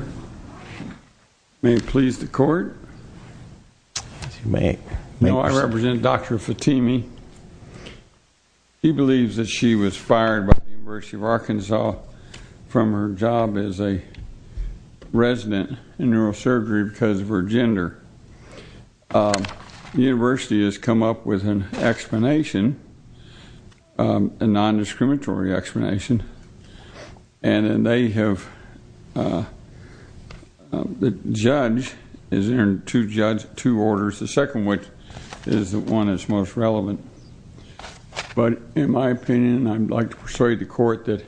May it please the court. No, I represent Dr. Fatemi. He believes that she was fired by the University of Arkansas from her job as a resident in neurosurgery because of her gender. The university has come up with an explanation, a the judge is there to judge two orders the second which is the one that's most relevant but in my opinion I'd like to persuade the court that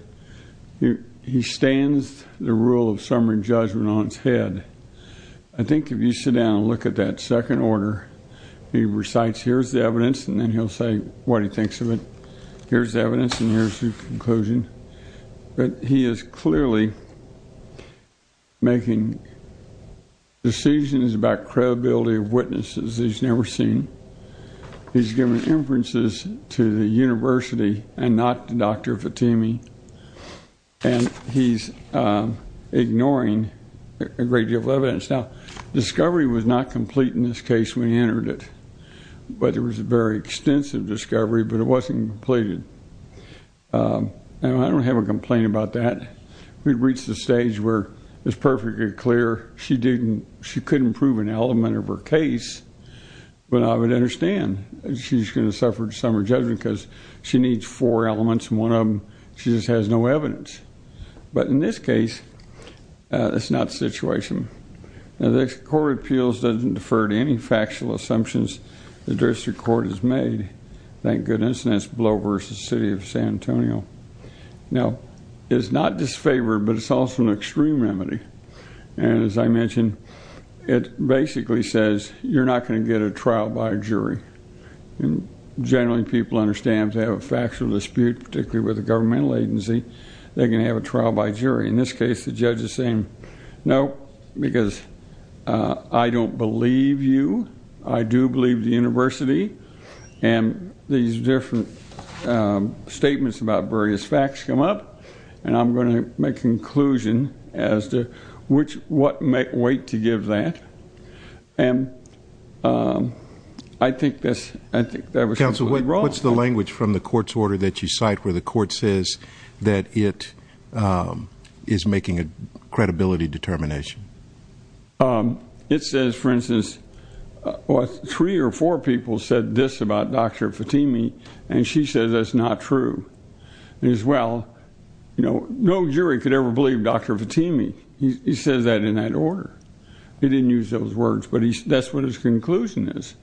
he stands the rule of summary judgment on its head. I think if you sit down and look at that second order he recites here's the evidence and then he'll say what he making decisions about credibility of witnesses he's never seen. He's given inferences to the university and not to Dr. Fatemi and he's ignoring a great deal of evidence. Now discovery was not complete in this case when he entered it but there was a very extensive discovery but it wasn't completed and I don't have a complaint about that. We've reached the stage where it's perfectly clear she didn't she couldn't prove an element of her case but I would understand she's gonna suffer summer judgment because she needs four elements and one of them she just has no evidence but in this case it's not situation. The court of appeals doesn't defer to any factual assumptions the district court has made. Thank is not disfavored but it's also an extreme remedy and as I mentioned it basically says you're not going to get a trial by a jury and generally people understand to have a factual dispute particularly with a governmental agency they can have a trial by jury in this case the judge is saying no because I don't believe you I do believe the university and these different statements about various facts come up and I'm going to make conclusion as to which what might wait to give that and I think this I think that was council what's the language from the court's order that you cite where the court says that it is making a credibility determination it says for instance what or four people said this about dr. Fatimi and she says that's not true there's well you know no jury could ever believe dr. Fatimi he says that in that order he didn't use those words but he that's what his conclusion is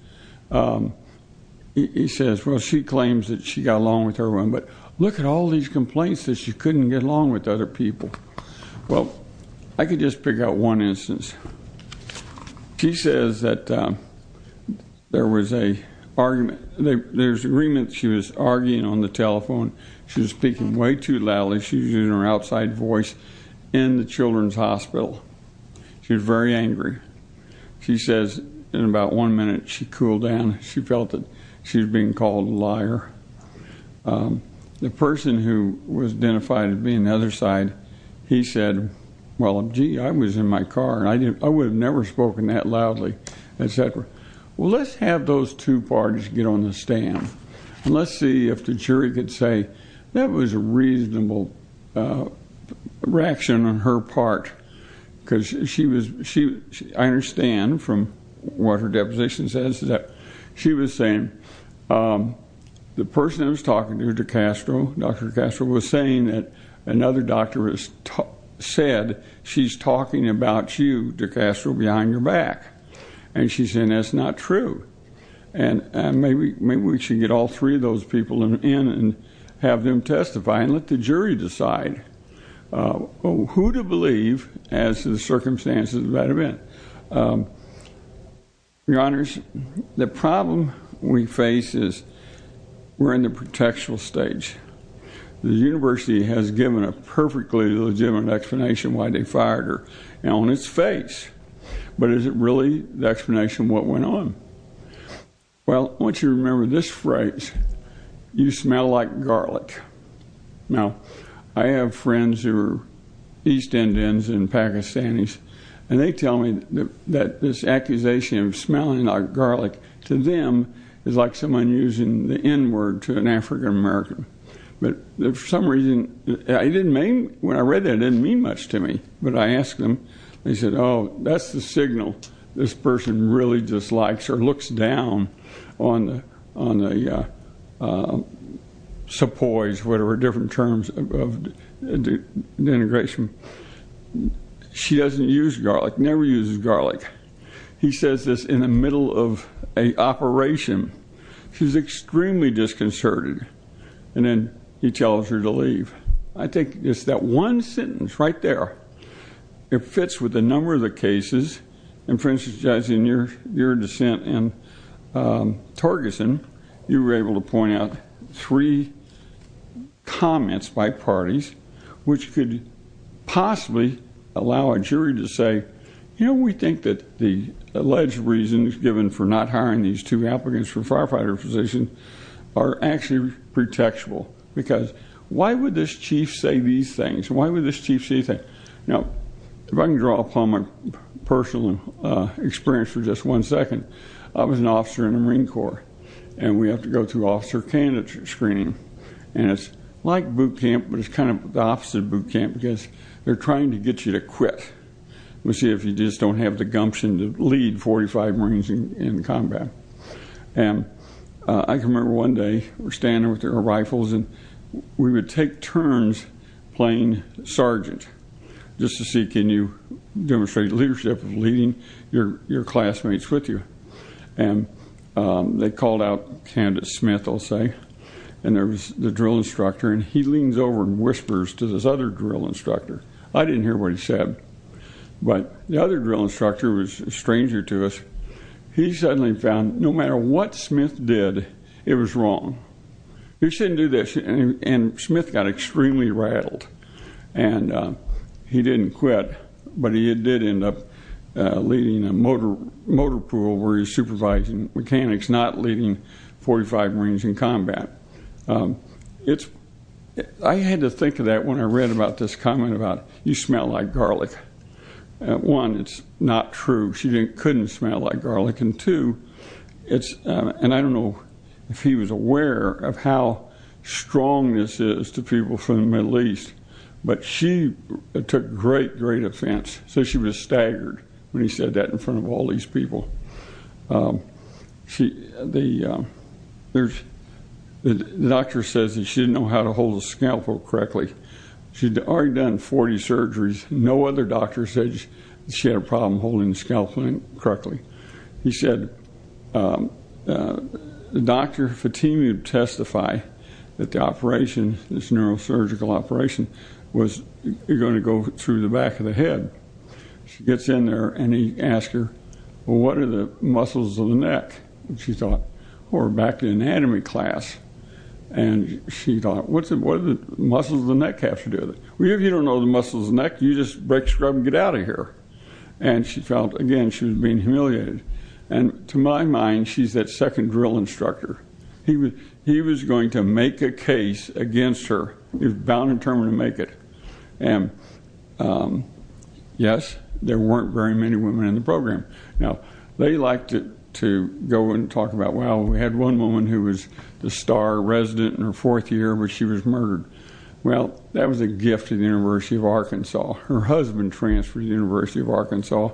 he says well she claims that she got along with her one but look at all these complaints that she couldn't get along with other people well I could just pick out one instance she says that there was a argument there's agreement she was arguing on the telephone she was speaking way too loudly she's using her outside voice in the Children's Hospital she was very angry she says in about one minute she cooled down she felt that she's being called a liar the person who was identified as being the other side he said well gee I was in my car and I didn't I would have never spoken that loudly and said well let's have those two parties get on the stand and let's see if the jury could say that was a reasonable reaction on her part because she was she I understand from what her deposition says that she was saying the person that was talking to dr. Castro dr. Castro was saying that another doctor has said she's talking about you to Castro behind your back and she's in that's not true and maybe maybe we should get all three of those people in and have them testify and let the jury decide who to believe as the circumstances of that event your honors the problem we face is we're in the protectional stage the university has given a perfectly legitimate explanation why they fired her on its face but is it really the explanation what went on well once you remember this phrase you smell like garlic now I have friends who are East Indians and Pakistanis and they tell me that this accusation of smelling like garlic to them is like someone using the n-word to an African American but there's some reason I didn't mean when I read that didn't mean much to me but I asked him they said oh that's the signal this person really dislikes or looks down on on a suppose whatever different terms of the integration she doesn't use garlic never uses garlic he says this in the middle of a operation she's extremely disconcerted and then he tells her to leave I think it's that one sentence right there it fits with a number of the cases and for instance guys in your your comments by parties which could possibly allow a jury to say you know we think that the alleged reason is given for not hiring these two applicants for firefighter physician are actually pretextual because why would this chief say these things why would this chief see that you know if I can draw upon my personal experience for just one second I was an officer in the Marine Corps and we have to go through officer candidate screening and it's like boot camp but it's kind of the opposite boot camp because they're trying to get you to quit we see if you just don't have the gumption to lead 45 Marines in the combat and I can remember one day we're standing with their rifles and we would take turns playing sergeant just to see can you demonstrate leadership of your classmates with you and they called out Candace Smith I'll say and there was the drill instructor and he leans over and whispers to this other drill instructor I didn't hear what he said but the other drill instructor was stranger to us he suddenly found no matter what Smith did it was wrong you shouldn't do this and Smith got extremely rattled and he didn't quit but he did end up leading a motor pool where he's supervising mechanics not leading 45 Marines in combat it's I had to think of that when I read about this comment about you smell like garlic one it's not true she didn't couldn't smell like garlic and two it's and I don't know if he was aware of how strong this is to people from the Middle East but she took great great offense so she was staggered when he said that in front of all these people she the there's the doctor says that she didn't know how to hold a scalpel correctly she'd already done 40 surgeries no other doctor said she had a problem holding the scalpel correctly he said the doctor Fatima to testify that the operation this neurosurgical operation was you're going to go through the back of the head she gets in there and he asked her what are the muscles of the neck and she thought or back to anatomy class and she thought what's it what are the muscles of the neck have to do it we have you don't know the muscles neck you just break scrub and get out of here and she felt again she was being humiliated and to my mind she's that second drill instructor he was he was going to make a case against her is bound and termina make it and yes there weren't very many women in the program now they liked it to go and talk about well we had one woman who was the star resident in her fourth year where she was murdered well that was a Arkansas her husband transferred University of Arkansas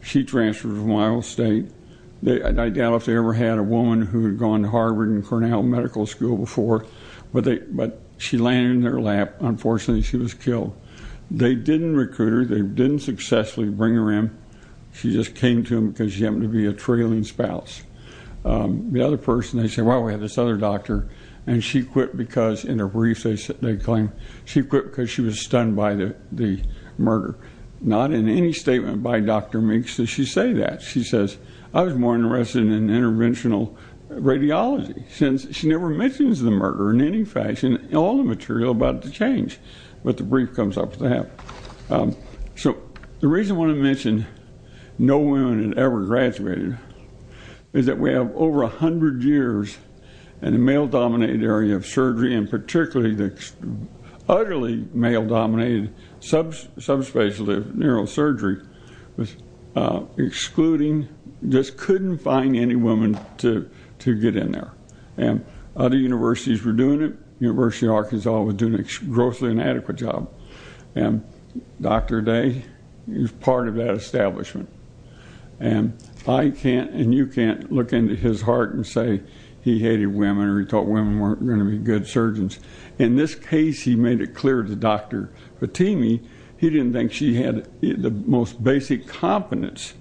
she transferred from Iowa State they I doubt if they ever had a woman who had gone to Harvard and Cornell Medical School before but they but she landed in their lap unfortunately she was killed they didn't recruit her they didn't successfully bring her in she just came to him because you happen to be a trailing spouse the other person they say well we have this other doctor and she quit because in a brief they sit they claim she quit because she was stunned by the the murder not in any statement by dr. makes that she say that she says I was more interested in interventional radiology since she never mentions the murder in any fashion all the material about to change but the brief comes up with that so the reason I want to mention no women had ever graduated is that we have over a hundred years and male-dominated area of surgery and particularly the utterly male-dominated subsubstantially of neurosurgery was excluding just couldn't find any woman to to get in there and other universities were doing it University Arkansas was doing a grossly inadequate job and dr. day is part of that establishment and I can't and you can't look into his heart and say he hated women or he thought women weren't gonna be good surgeons in this case he made it clear to dr. Fatemi he didn't think she had the most basic competence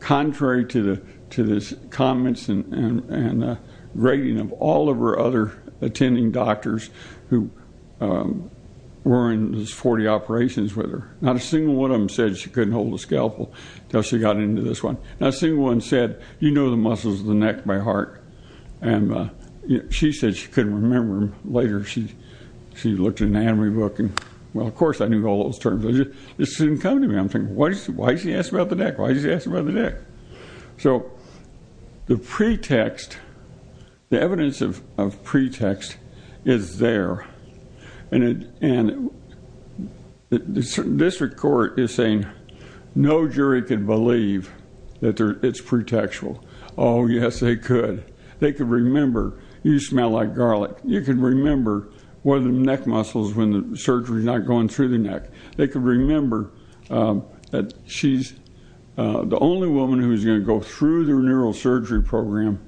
contrary to the to this comments and and rating of all of her other attending doctors who were in this 40 operations with her not a single one of them said she couldn't hold a scalpel until she got into this one not seeing one said you know the muscles of the neck my heart and she said she couldn't remember him later she she looked at an anime book and well of course I knew all those terms it didn't come to me I'm saying what is the why she asked about the neck why did you ask about the neck so the pretext the evidence of pretext is there and it and this record is saying no jury could believe that it's pretextual oh yes they could they could remember you smell like garlic you can remember one of the neck muscles when the surgery is not going through the neck they could remember that she's the only woman who is going to go through their neurosurgery program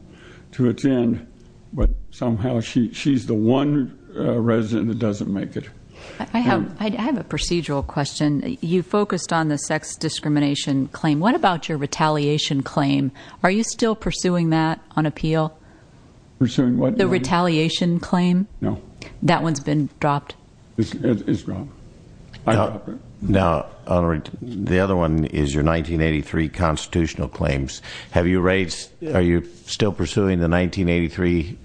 to attend but somehow she she's the one resident that doesn't make it I have I have a claim what about your retaliation claim are you still pursuing that on appeal pursuing what the retaliation claim no that one's been dropped it's wrong no alright the other one is your 1983 constitutional claims have you raised are you still pursuing the 1983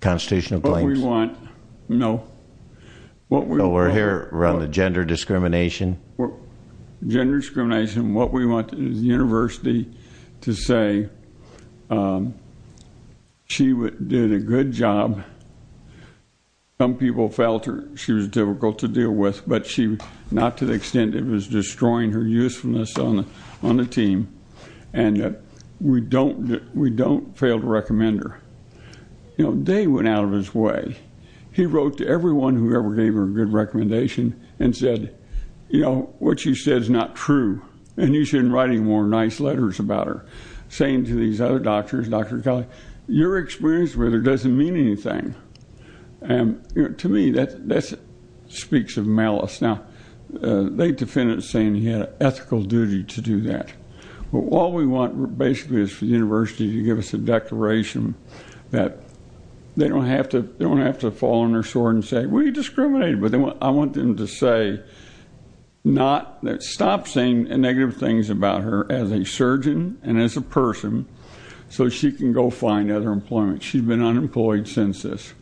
constitutional claim we want no what we we're here around the gender discrimination gender discrimination what we want is the University to say she would did a good job some people felt her she was difficult to deal with but she not to the extent it was destroying her usefulness on on the team and we don't we don't fail to recommend her you know they went out of his way he wrote to everyone who ever gave her a recommendation and said you know what you said is not true and you shouldn't writing more nice letters about her saying to these other doctors dr. Kelly your experience with her doesn't mean anything and to me that this speaks of malice now they defendant saying he had an ethical duty to do that well all we want basically is for the University to give us a declaration that they don't have to don't have to fall on their sword and say we discriminate but they I want them to say not that stop saying negative things about her as a surgeon and as a person so she can go find other employment she's been unemployed since this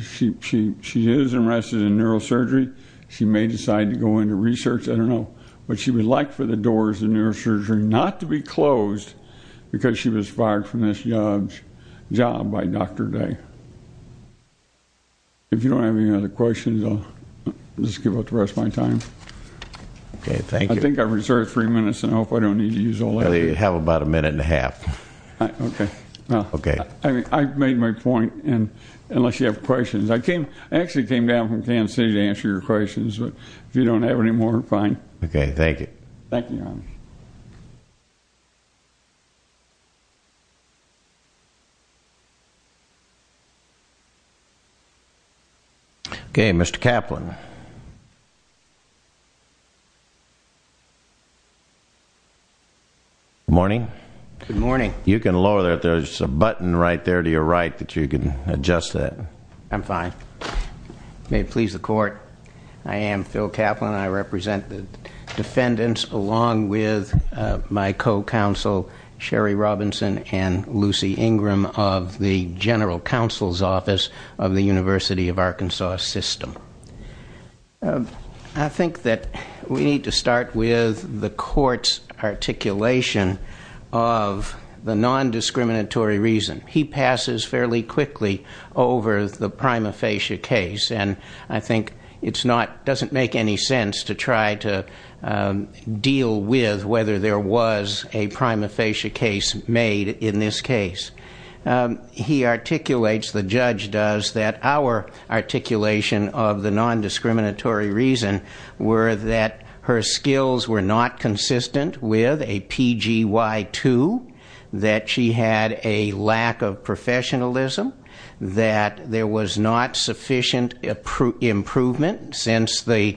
she she she is arrested in neurosurgery she may decide to go into research I don't know but she would like for the doors in neurosurgery not to be closed because she was fired from this young job by dr. day if you don't have any other questions I'll just give up the rest my time okay thank you I think I've reserved three minutes and I hope I don't need to use all they have about a minute and a half okay okay I mean I've made my point and unless you have questions I came actually came down from Kansas City to answer your questions but if you don't have any more fine okay thank you thank you okay mr. Kaplan morning good morning you can lower that there's a button right there to your right that you can adjust that I'm fine may it please the court I am Phil Kaplan I represent the defendants along with my co-counsel Sherry Robinson and Lucy Ingram of the general counsel's office of the University of Arkansas system I think that we need to start with the courts articulation of the non-discriminatory reason he passes fairly quickly over the prima facie case and I think it's not doesn't make any sense to try to deal with whether there was a prima facie case made in this case he articulates the judge does that our articulation of the non-discriminatory reason were that her skills were not consistent with a pgy2 that she had a lack of professionalism that there was not sufficient improvement since the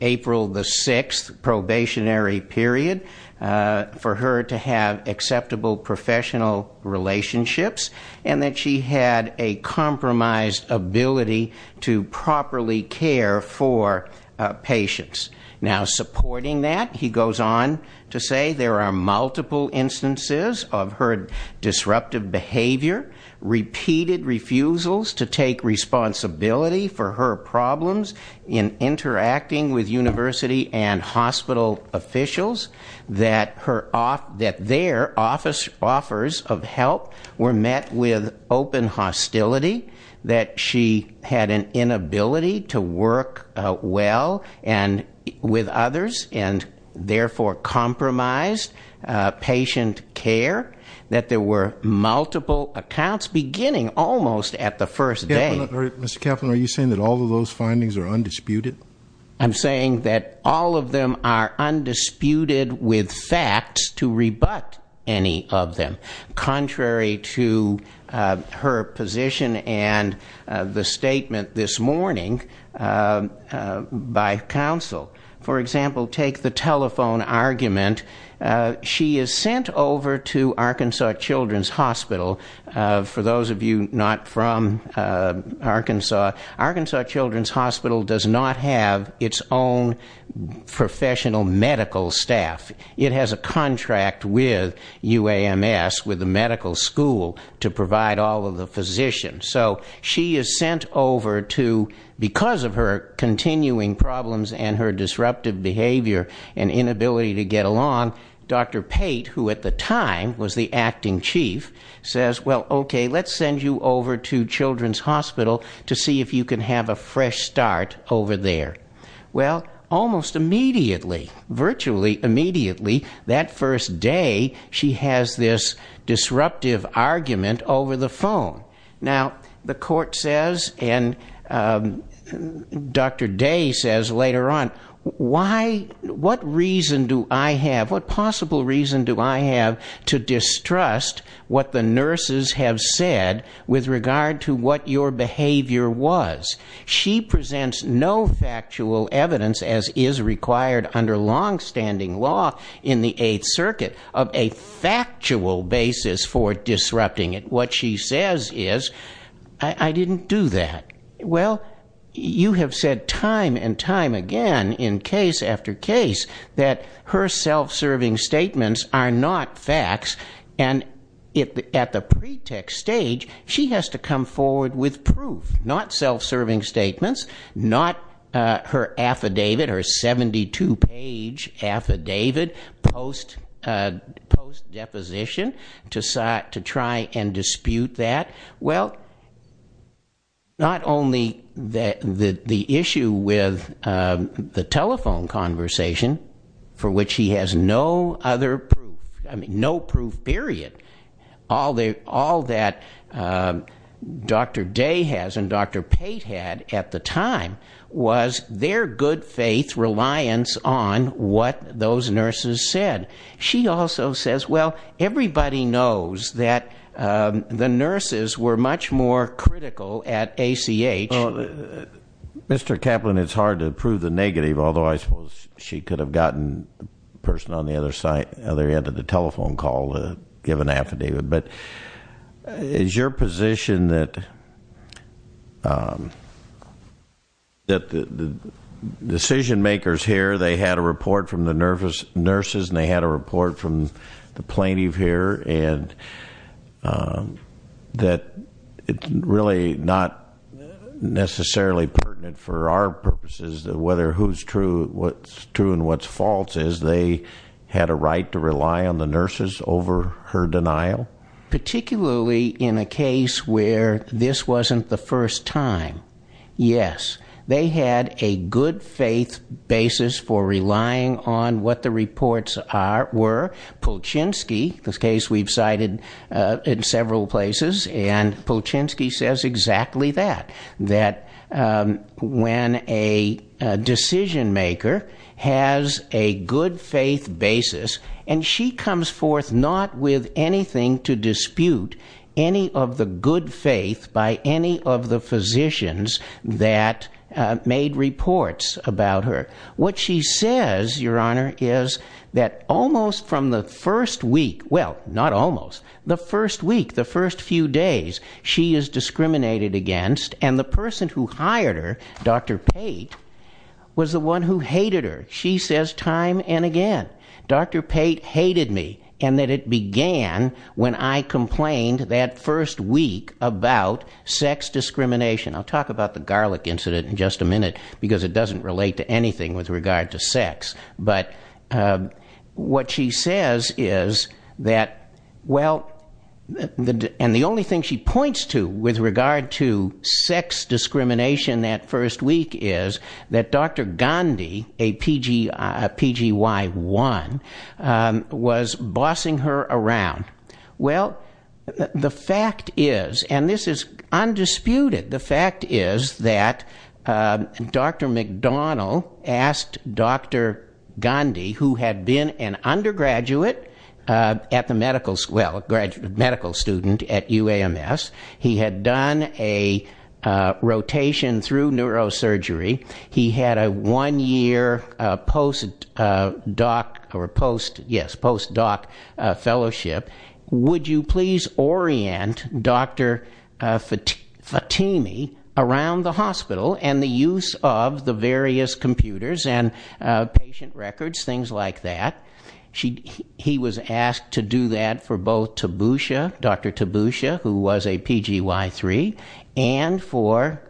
April the 6th probationary period for her to have acceptable professional relationships and that she had a compromised ability to properly care for patients now supporting that he goes on to say there are multiple instances of her disruptive behavior repeated refusals to take responsibility for her problems in interacting with University and hospital officials that her off that their office offers of help were met with open hostility that she had an inability to work well and with others and therefore compromised patient care that there were multiple accounts beginning almost at the first day captain are you saying that all of those findings are undisputed I'm saying that all of them are undisputed with facts to rebut any of them contrary to her position and the statement this morning by counsel for example take the telephone argument she is sent over to Arkansas Children's Hospital for those of you not from Arkansas Arkansas Children's Hospital does not have its own professional medical staff it has a contract with UAMS with the medical school to provide all of the physician so she is sent over to because of her continuing problems and her disruptive behavior and inability to get along dr. Pate who at the time was the acting chief says well okay let's send you over to Children's Hospital to see if you can have a fresh start over there well almost immediately virtually immediately that first day she has this disruptive argument over the phone now the court says and dr. day says later on why what reason do I have what possible reason do I have to distrust what the nurses have said with regard to what your behavior was she presents no factual evidence as is required under long-standing law in the Eighth Circuit of a factual basis for disrupting it what she says is I didn't do that well you have said time and time again in case after case that her self-serving statements are not facts and if at the pretext stage she has to come forward with proof not self-serving statements not her affidavit or 72 page affidavit post deposition to start to try and dispute that well not only that the the issue with the telephone conversation for which he has no other proof I mean no proof period all they all that dr. day has and dr. Pate had at the time was their good faith reliance on what those nurses said she also says well everybody knows that the nurses were much more critical at ACH mr. Kaplan it's hard to prove the negative although I suppose she could have gotten person on the other side other end of the telephone call to give an affidavit but is your position that that the decision-makers here they had a report from the nervous nurses and they had a report from the plaintiff here and that it's really not necessarily pertinent for our purposes that whether who's true what's true and what's false is they had a right to rely on the nurses over her denial particularly in a case where this wasn't the first time yes they had a good faith basis for relying on what the reports are were Polchinski this case we've cited in several places and Polchinski says exactly that that when a decision-maker has a good faith basis and she comes forth not with anything to dispute any of the good faith by any of the physicians that made reports about her what she says your honor is that almost from the first week well not almost the first week the first few days she is discriminated against and the person who hired her dr. Pate was the one who hated her she says time and again dr. Pate hated me and that it began when I complained that first week about sex discrimination I'll talk about the garlic incident in just a minute because it doesn't relate to anything with regard to sex but what she says is that well and the only thing she points to with regard to sex discrimination that first week is that dr. Gandhi a PG PG y1 was bossing her around well the fact is and this is undisputed the fact is that dr. McDonnell asked dr. Gandhi who had been an undergraduate at the medical school graduate medical student at UAMS he had done a rotation through neurosurgery he had a one-year post doc or post yes post doc fellowship would you please orient dr. Fatemeh around the hospital and the use of the various computers and patient records things like that she he was asked to do that for both Tabusha dr. Tabusha who was a PG y3 and for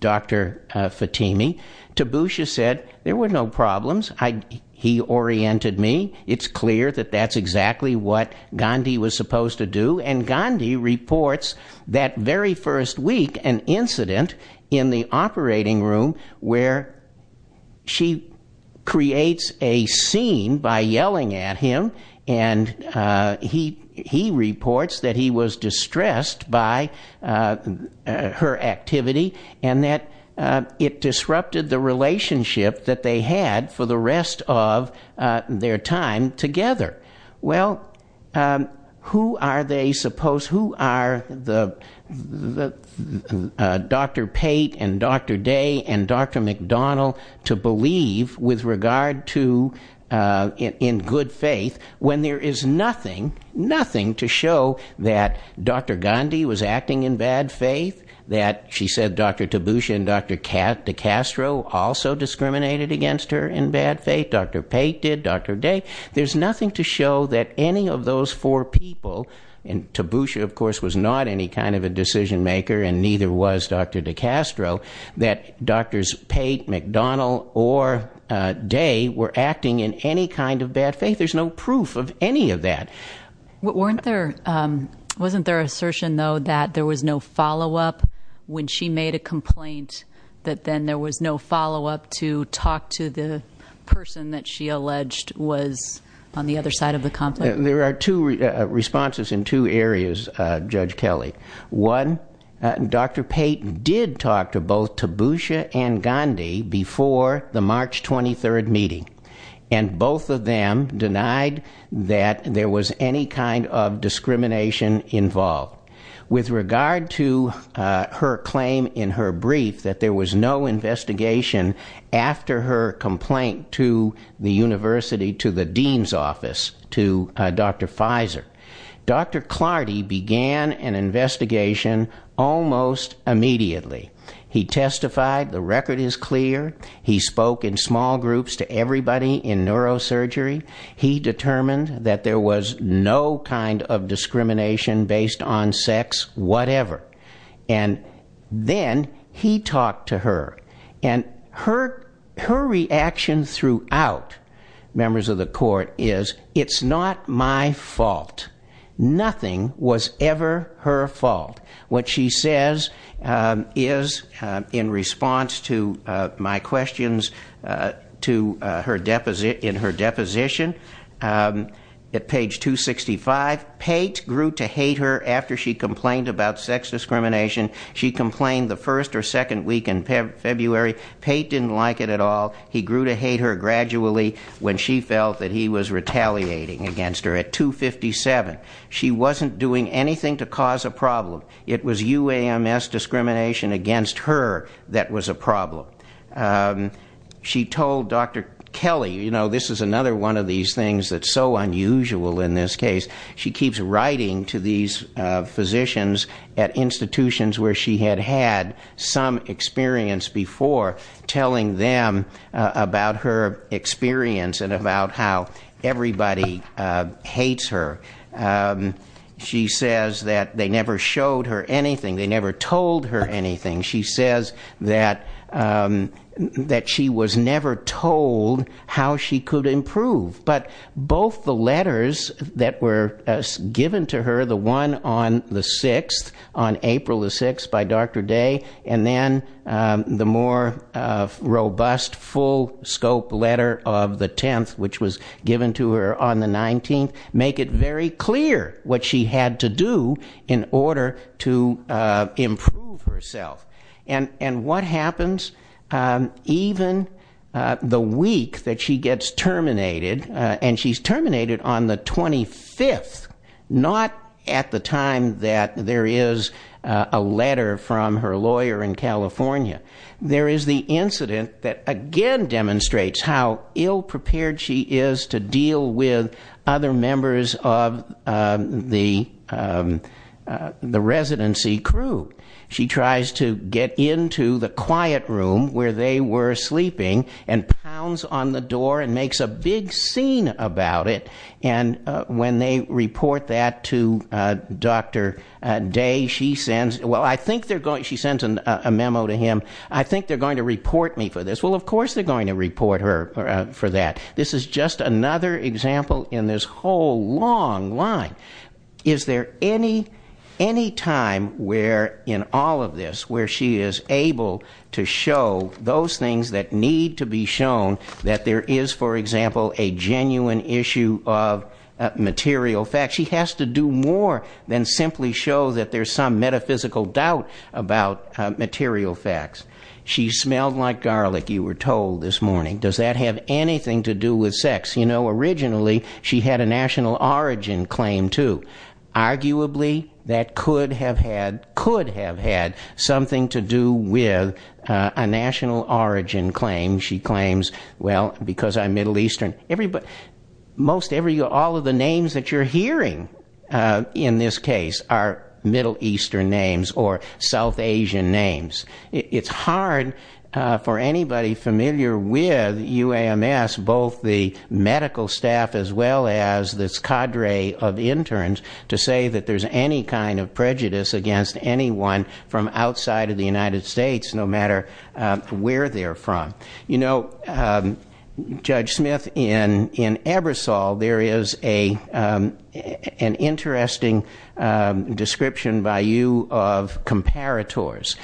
dr. Fatemeh Tabusha said there were no problems I he oriented me it's clear that that's exactly what Gandhi was supposed to do and Gandhi reports that very first week an incident in the operating room where she creates a scene by yelling at him and he he reports that he was distressed by her activity and that it disrupted the who are they supposed who are the dr. Pate and dr. Day and dr. McDonnell to believe with regard to in good faith when there is nothing nothing to show that dr. Gandhi was acting in bad faith that she said dr. Tabusha and dr. Kat DeCastro also discriminated against her in bad faith dr. Pate did dr. Day there's nothing to show that any of those four people and Tabusha of course was not any kind of a decision maker and neither was dr. DeCastro that doctors Pate McDonnell or day were acting in any kind of bad faith there's no proof of any of that what weren't there wasn't there assertion though that there was no follow-up when she made a complaint that then there was no follow-up to talk to the person that she alleged was on the other side of the conflict there are two responses in two areas judge Kelly one dr. Pate did talk to both Tabusha and Gandhi before the March 23rd meeting and both of them denied that there was any kind of discrimination involved with regard to her claim in her brief that there was no investigation after her complaint to the university to the dean's office to dr. Pfizer dr. Clardy began an investigation almost immediately he testified the record is clear he spoke in small groups to everybody in neurosurgery he determined that there was no kind of discrimination based on sex whatever and then he talked to her and her her reaction throughout members of the court is it's not my fault nothing was ever her fault what she says is in response to my questions to her deposit in her deposition at page 265 Pate grew to hate her after she complained about sex discrimination she complained the first or second week in February Pate didn't like it at all he grew to hate her gradually when she felt that he was retaliating against her at 257 she wasn't doing anything to cause a problem it was UAMS discrimination against her that was a problem she told dr. Kelly you know this is another one of these things that's so unusual in this case she keeps writing to these physicians at institutions where she had had some experience before telling them about her experience and about how everybody hates her she says that they never showed her anything they never told her anything she says that that she was never told how she could improve but both the letters that were given to her the one on the 6th on April the 6th by dr. Day and then the more robust full scope letter of the 10th which was given to her on the 19th make it very clear what she had to do in order to improve herself and and what happens even the week that she gets terminated and she's terminated on the 25th not at the time that there is a letter from her lawyer in California there is the incident that again demonstrates how ill-prepared she is to deal with other members of the the residency crew she tries to get into the quiet room where they were sleeping and pounds on the door and makes a big scene about it and when they report that to dr. Day she sends well I think they're going she sends a memo to him I think they're going to report me for this well of course they're going to report her for that this is just another example in this whole long line is there any any time where in all of this where she is able to show those things that need to be shown that there is for example a genuine issue of material facts she has to do more than simply show that there's some metaphysical doubt about material facts she smelled like garlic you were told this morning does that have anything to do with sex you know originally she had a national origin claim to arguably that could have had could have had something to do with a national origin claim she claims well because I'm Middle Eastern everybody most every all of the names that you're hearing in this case are Middle Eastern names or South Asian names it's hard for anybody familiar with UAMS both the medical staff as well as this cadre of interns to say that there's any kind of prejudice against anyone from outside of the United States no matter where they're from you know Judge Smith in in Ebersol there is a an interesting description by you of comparators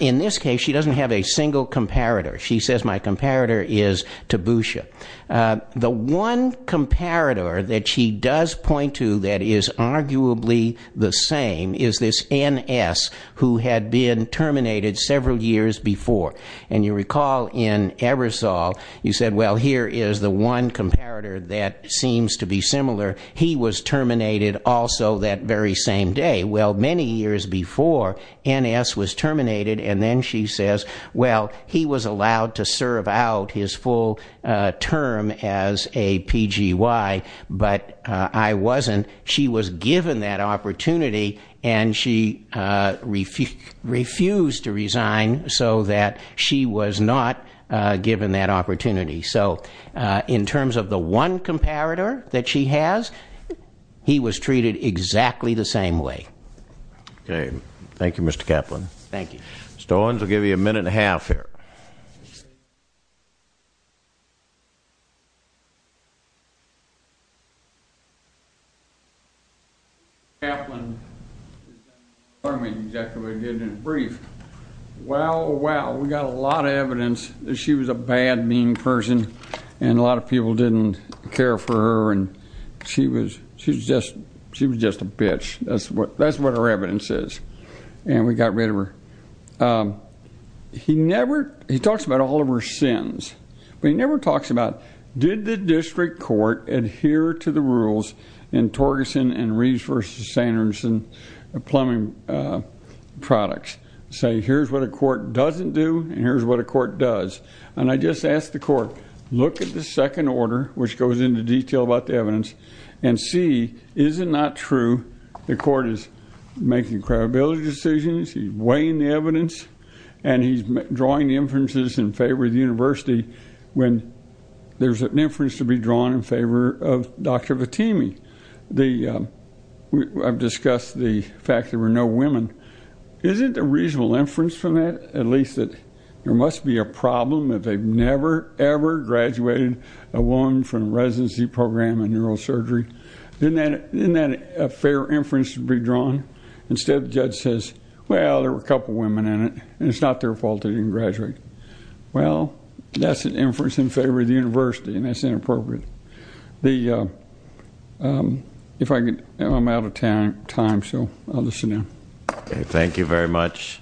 in this case she doesn't have a single comparator she says my comparator is to Tabusha the one comparator that she does point to that is arguably the same is this NS who had been terminated several years before and you recall in Ebersol you said well here is the one comparator that seems to be similar he was terminated also that very same day well many years before NS was terminated and then she says well he was allowed to serve out his full term as a PGY but I wasn't she was given that opportunity and she refused to resign so that she was not given that opportunity so in terms of the one comparator that she has he was treated exactly the same way okay thank you mr. Kaplan thank you stones will give you a minute and a half here Kaplan I mean exactly we did in a brief well well we got a lot of evidence that she was a bad mean person and a lot of people didn't care for her and she was she's just she was just a bitch that's what that's what her evidence is and we got rid of her he never he talks about all of her sins but he never talks about did the district court adhere to the rules in Torgerson and Reeves versus Sanderson plumbing products say here's what a court doesn't do and here's what a court does and I just asked the court look at the second order which goes into detail about the evidence and see is it not true the court is making credibility decisions he's weighing the evidence and he's drawing inferences in favor of the University when there's an inference to be drawn in favor of dr. Fatemi the I've discussed the fact there were no women is it a reasonable inference from it at least that there must be a problem that they've never ever graduated a woman from residency program in neurosurgery then that in that a fair inference to be drawn instead of judge says well there were a couple women in it and it's not their fault they didn't graduate well that's an inference in favor of the University and that's inappropriate the if I get I'm out of town time so I'll listen in thank you very much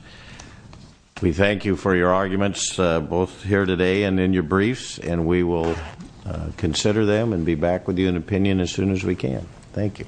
we thank you for your arguments both here today and in your briefs and we will consider them and be back with you an opinion as soon as we can thank you